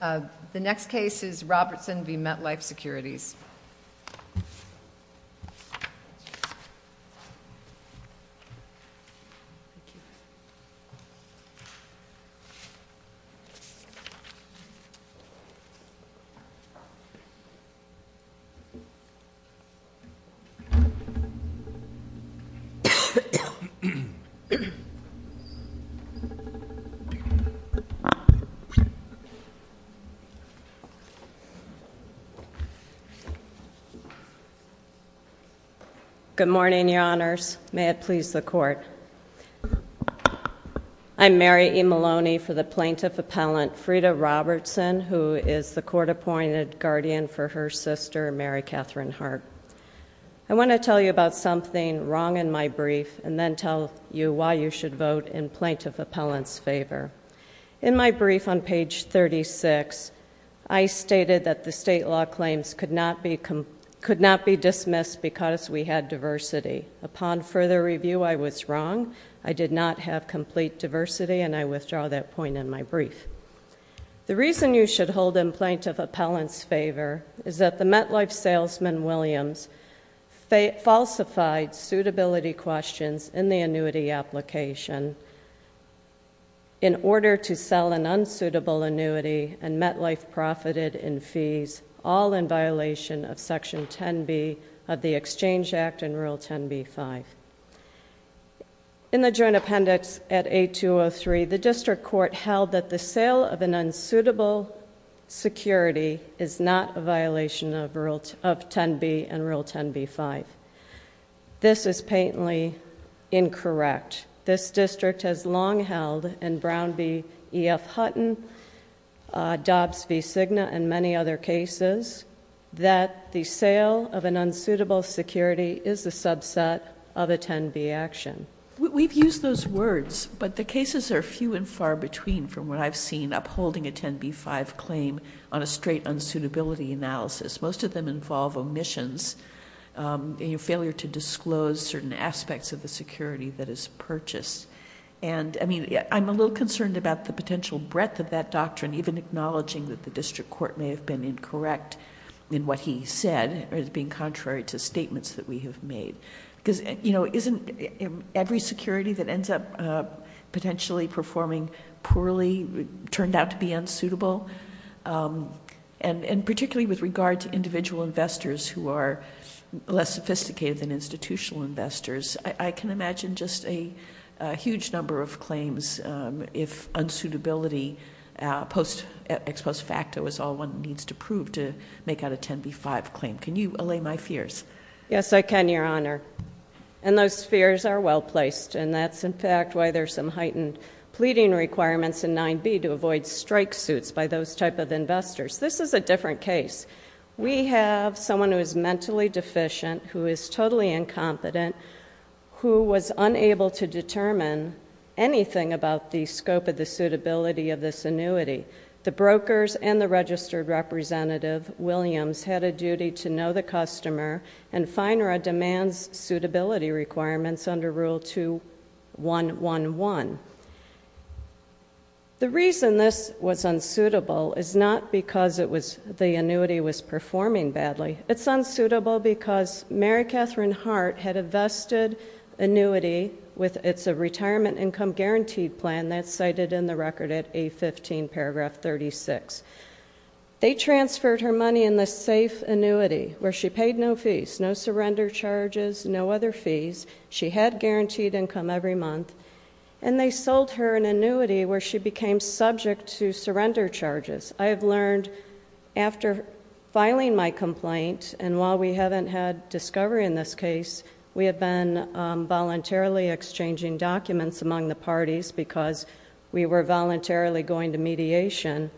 The next case is Robertson v. MetLife Securities. Good morning, Your Honors. May it please the Court. I'm Mary E. Maloney for the Plaintiff Appellant, Freda Robertson, who is the Court-Appointed Guardian for her sister, Mary Catherine Hart. I want to tell you about something wrong in my brief and then tell you why you should vote in Plaintiff Appellant's favor. In my brief on page 36, I stated that the state law claims could not be dismissed because we had diversity. Upon further review, I was wrong. I did not have complete diversity, and I withdraw that point in my brief. The reason you should hold in Plaintiff Appellant's favor is that the MetLife salesman, Williams, falsified suitability questions in the annuity application in order to sell an unsuitable annuity, and MetLife profited in fees, all in violation of Section 10b of the Exchange Act and Rule 10b-5. In the Joint Appendix at A-203, the District Court held that the sale of an unsuitable security is not a violation of 10b and Rule 10b-5. This is patently incorrect. This district has long held in Brown v. E.F. Hutton, Dobbs v. Cigna, and many other cases, that the sale of an unsuitable security is a subset of a 10b action. We've used those words, but the cases are few and far between from what I've seen upholding a 10b-5 claim on a straight unsuitability analysis. Most of them involve omissions, a failure to disclose certain aspects of the security that is purchased. I'm a little concerned about the potential breadth of that doctrine, even acknowledging that the District Court may have been incorrect in what he said, as being contrary to statements that we have made. Because, you know, isn't every security that ends up potentially performing poorly turned out to be unsuitable? And particularly with regard to individual investors who are less sophisticated than institutional investors, I can imagine just a huge number of claims, if unsuitability ex post facto is all one needs to prove to make out a 10b-5 claim. Can you allay my fears? Yes, I can, Your Honor. And those fears are well placed, and that's in fact why there's some heightened pleading requirements in 9b to avoid strike suits by those type of investors. This is a different case. We have someone who is mentally deficient, who is totally incompetent, who was unable to determine anything about the scope of the suitability of this annuity. The brokers and the registered representative, Williams, had a duty to know the customer, and FINERA demands suitability requirements under Rule 2111. The reason this was unsuitable is not because the annuity was performing badly. It's unsuitable because Mary Catherine Hart had a vested annuity with its retirement income guaranteed plan that's cited in the record at 815 paragraph 36. They transferred her money in the safe annuity where she paid no fees, no surrender charges, no other fees. She had guaranteed income every month, and they sold her an annuity where she became subject to surrender charges. I have learned after filing my complaint, and while we haven't had discovery in this parties, because we were voluntarily going to mediation,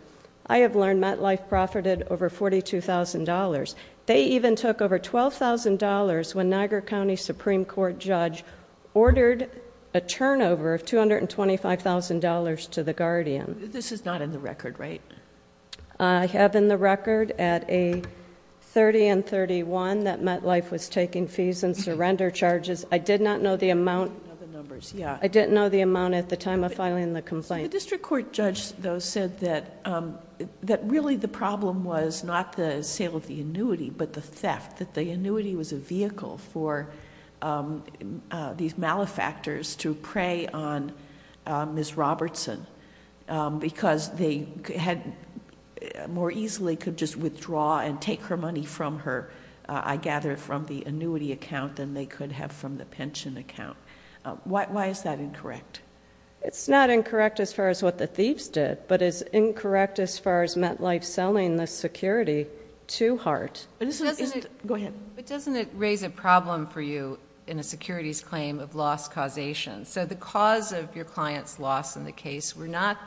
I have learned MetLife profited over $42,000. They even took over $12,000 when Niagara County Supreme Court judge ordered a turnover of $225,000 to the Guardian. This is not in the record, right? I have in the record at 830 and 831 that MetLife was taking fees and surrender charges. I did not know the amount... I don't know the numbers. Yeah. I didn't know the amount at the time of filing the complaint. The district court judge, though, said that really the problem was not the sale of the annuity but the theft, that the annuity was a vehicle for these malefactors to prey on Ms. Robertson because they more easily could just withdraw and take her money from her, I gather, from the annuity account than they could have from the pension account. Why is that incorrect? It's not incorrect as far as what the thieves did, but it's incorrect as far as MetLife selling the security to Hart. Go ahead. But doesn't it raise a problem for you in a securities claim of loss causation? The cause of your client's loss in the case were not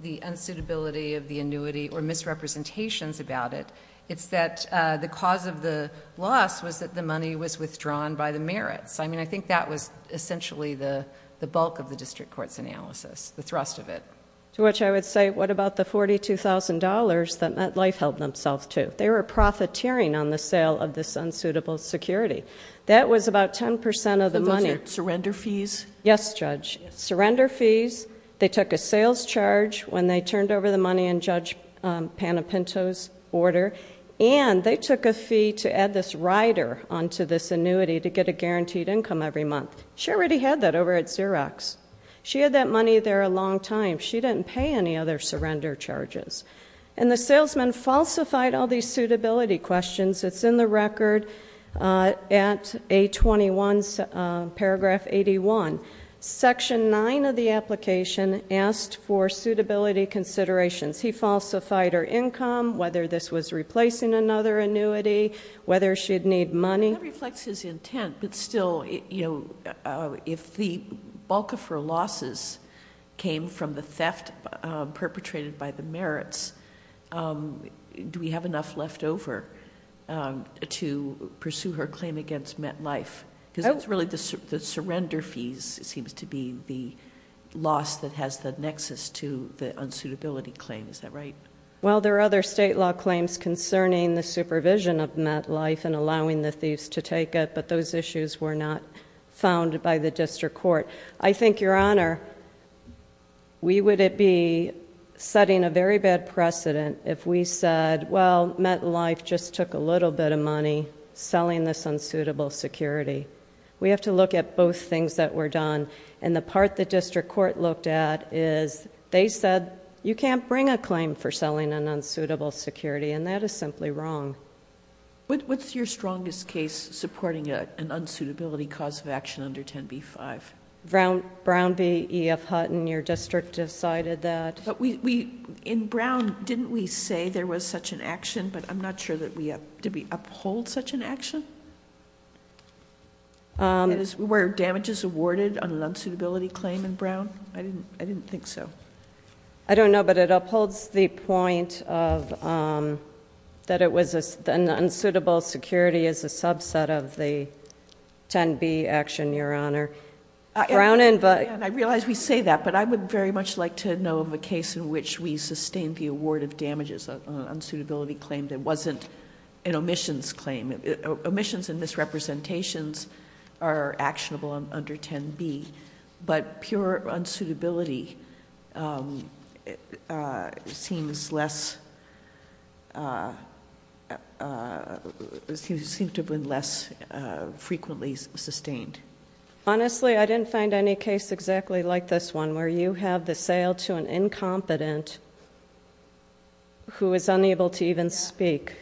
the unsuitability of the annuity or misrepresentations about it. It's that the cause of the loss was that the money was withdrawn by the merits. I mean, I think that was essentially the bulk of the district court's analysis, the thrust of it. To which I would say, what about the $42,000 that MetLife held themselves to? They were profiteering on the sale of this unsuitable security. That was about 10% of the money... Those are surrender fees? Yes, Judge. Surrender fees. They took a sales charge when they turned over the money in Judge Panepinto's order, and they took a fee to add this rider onto this annuity to get a guaranteed income every month. She already had that over at Xerox. She had that money there a long time. She didn't pay any other surrender charges. And the salesman falsified all these suitability questions. It's in the record at A21, paragraph 81. Section 9 of the application asked for suitability considerations. He falsified her income, whether this was replacing another annuity, whether she'd need money. That reflects his intent, but still, if the bulk of her losses came from the theft perpetrated by the merits, do we have enough left over to pursue her claim against MetLife? Because it's really the surrender fees, it seems to be, the loss that has the nexus to the unsuitability claim. Is that right? Well, there are other state law claims concerning the supervision of MetLife and allowing the thieves to take it, but those issues were not found by the district court. I think, Your Honor, we would be setting a very bad precedent if we said, well, MetLife just took a little bit of money selling this unsuitable security. We have to look at both things that were done. The part the district court looked at is, they said, you can't bring a claim for selling an unsuitable security, and that is simply wrong. What's your strongest case supporting an unsuitability cause of action under 10b-5? Brown v. E.F. Hutton. Your district decided that. In Brown, didn't we say there was such an action, but I'm not sure, did we uphold such an action? Were damages awarded on an unsuitability claim in Brown? I didn't think so. I don't know, but it upholds the point that it was an unsuitable security as a subset of the 10b action, Your Honor. I realize we say that, but I would very much like to know of a case in which we sustained the award of damages on an unsuitability claim that wasn't an omissions claim. Omissions and misrepresentations are actionable under 10b, but pure unsuitability seems to have been less frequently sustained. Honestly, I didn't find any case exactly like this one, where you have the sale to an incompetent who is unable to even speak.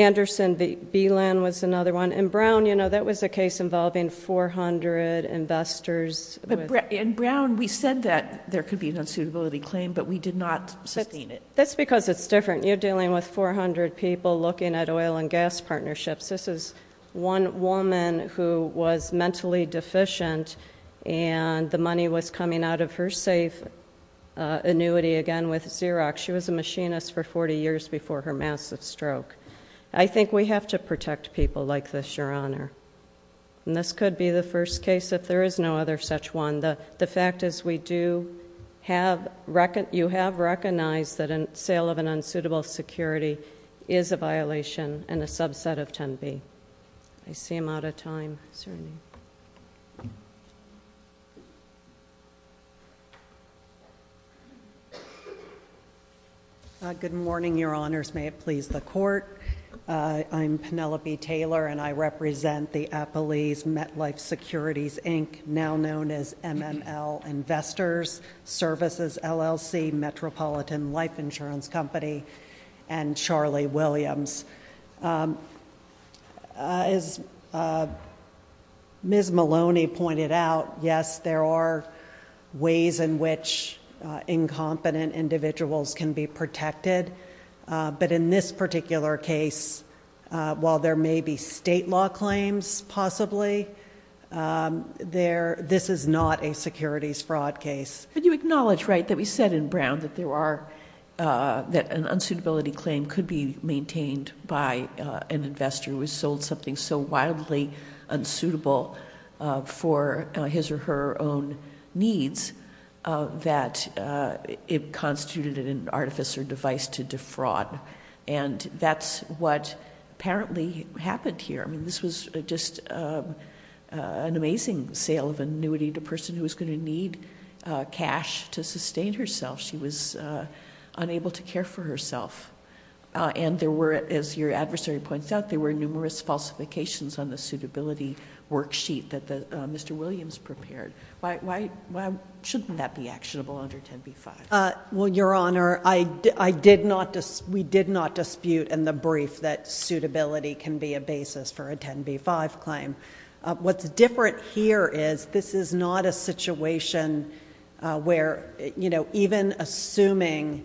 Anderson v. Beeland was another one. In Brown, that was a case involving 400 investors. In Brown, we said that there could be an unsuitability claim, but we did not sustain it. That's because it's different. You're dealing with 400 people looking at oil and gas partnerships. This is one woman who was mentally deficient, and the money was coming out of her safe annuity again with Xerox. She was a machinist for 40 years before her massive stroke. I think we have to protect people like this, Your Honor. And this could be the first case if there is no other such one. The fact is you have recognized that a sale of an unsuitable security is a violation and a subset of 10b. I see I'm out of time. Is there any? Good morning, Your Honors. May it please the court. I'm Penelope Taylor, and I represent the Appalese MetLife Securities, Inc., now known as MML Investors Services LLC, Metropolitan Life Insurance Company. And Charlie Williams. As Ms. Maloney pointed out, yes, there are ways in which incompetent individuals can be protected. But in this particular case, while there may be state law claims, possibly, this is not a securities fraud case. But you acknowledge, right, that we said in Brown that an unsuitability claim could be maintained by an investor who has sold something so wildly unsuitable for his or her own needs. That it constituted an artifice or device to defraud. And that's what apparently happened here. I mean, this was just an amazing sale of annuity to a person who was going to need cash to sustain herself. She was unable to care for herself. And there were, as your adversary points out, there were numerous falsifications on the suitability worksheet that Mr. Williams prepared. Why shouldn't that be actionable under 10b-5? Well, your honor, we did not dispute in the brief that suitability can be a basis for a 10b-5 claim. What's different here is this is not a situation where even assuming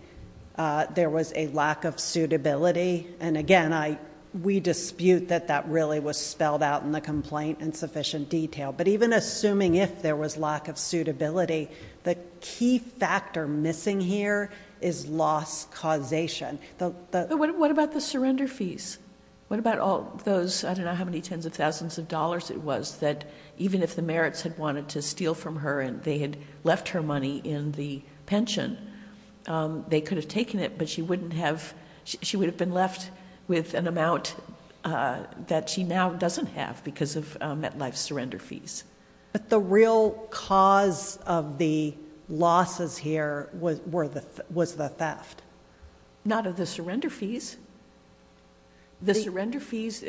there was a lack of suitability. And again, we dispute that that really was spelled out in the complaint in sufficient detail. But even assuming if there was lack of suitability, the key factor missing here is loss causation. What about the surrender fees? What about all those, I don't know how many tens of thousands of dollars it was that even if the merits had wanted to steal from her and they had left her money in the pension, they could have taken it. But she would have been left with an amount that she now doesn't have because of MetLife's surrender fees. But the real cause of the losses here was the theft. Not of the surrender fees. The surrender fees,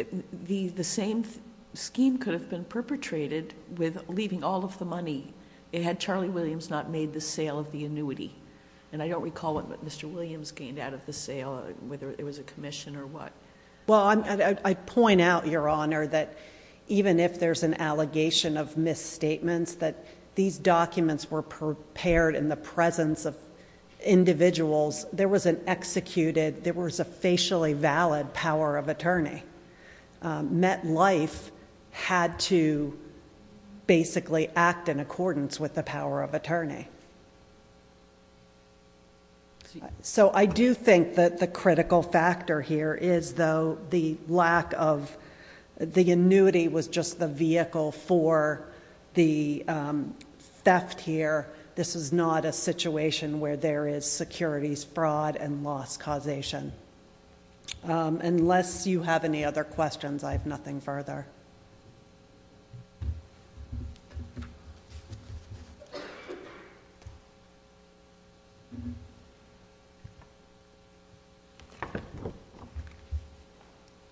the same scheme could have been perpetrated with leaving all of the money had Charlie Williams not made the sale of the annuity. And I don't recall what Mr. Williams gained out of the sale, whether it was a commission or what. Well, I'd point out, your honor, that even if there's an allegation of misstatements, that these documents were prepared in the presence of individuals. There was an executed, there was a facially valid power of attorney. MetLife had to basically act in accordance with the power of attorney. So I do think that the critical factor here is though the lack of, the annuity was just the vehicle for the theft here. This is not a situation where there is securities fraud and loss causation. Unless you have any other questions, I have nothing further.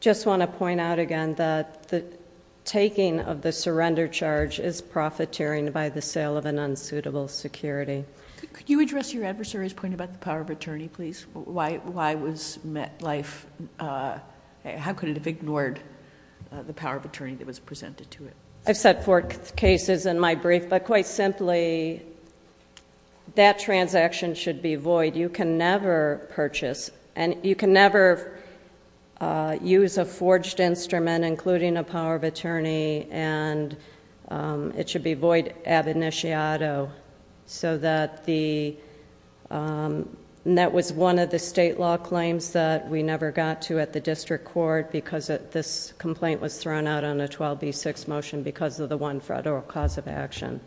Just want to point out again that the taking of the surrender charge is profiteering by the sale of an unsuitable security. Could you address your adversary's point about the power of attorney, please? Why was MetLife, how could it have ignored the power of attorney that was presented to it? I've said four cases in my brief, but quite simply, that transaction should be void. You can never purchase, and you can never use a forged instrument, including a power of attorney, and it should be void ab initiato. So that the, and that was one of the state law claims that we never got to at the district court, because this complaint was thrown out on a 12B6 motion because of the one federal cause of action.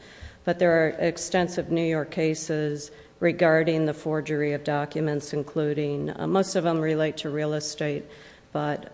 But there are extensive New York cases regarding the forgery of documents, including, most of them relate to real estate, but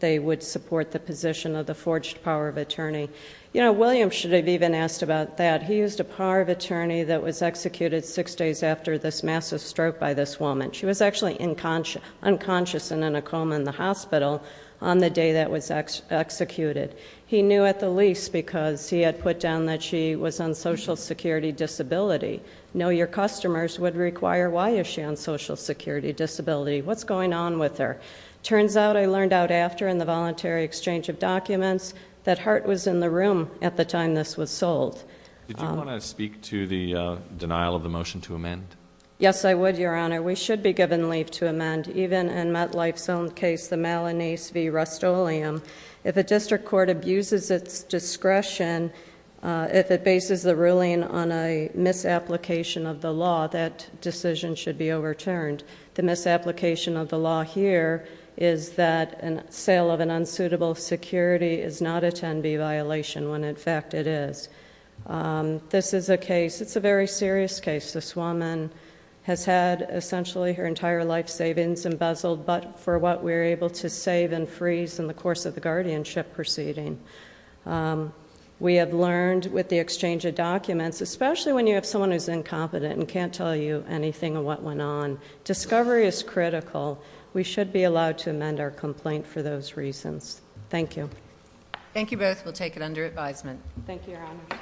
they would support the position of the forged power of attorney. William should have even asked about that. He used a power of attorney that was executed six days after this massive stroke by this woman. She was actually unconscious and in a coma in the hospital on the day that was executed. He knew at the least because he had put down that she was on social security disability. Know your customers would require, why is she on social security disability? What's going on with her? Turns out, I learned out after in the voluntary exchange of documents, that Hart was in the room at the time this was sold. Did you want to speak to the denial of the motion to amend? Yes, I would, your honor. We should be given leave to amend, even in MetLife's own case, the Malanese v Rustoleum. If a district court abuses its discretion, if it bases the ruling on a misapplication of the law, that decision should be overturned. The misapplication of the law here is that a sale of an unsuitable security is not a 10B violation, when in fact it is. This is a case, it's a very serious case. This woman has had essentially her entire life savings embezzled, but for what we're able to save and freeze in the course of the guardianship proceeding. We have learned with the exchange of documents, especially when you have someone who's incompetent and can't tell you anything of what went on, discovery is critical. We should be allowed to amend our complaint for those reasons. Thank you. Thank you both. We'll take it under advisement. Thank you, your honor.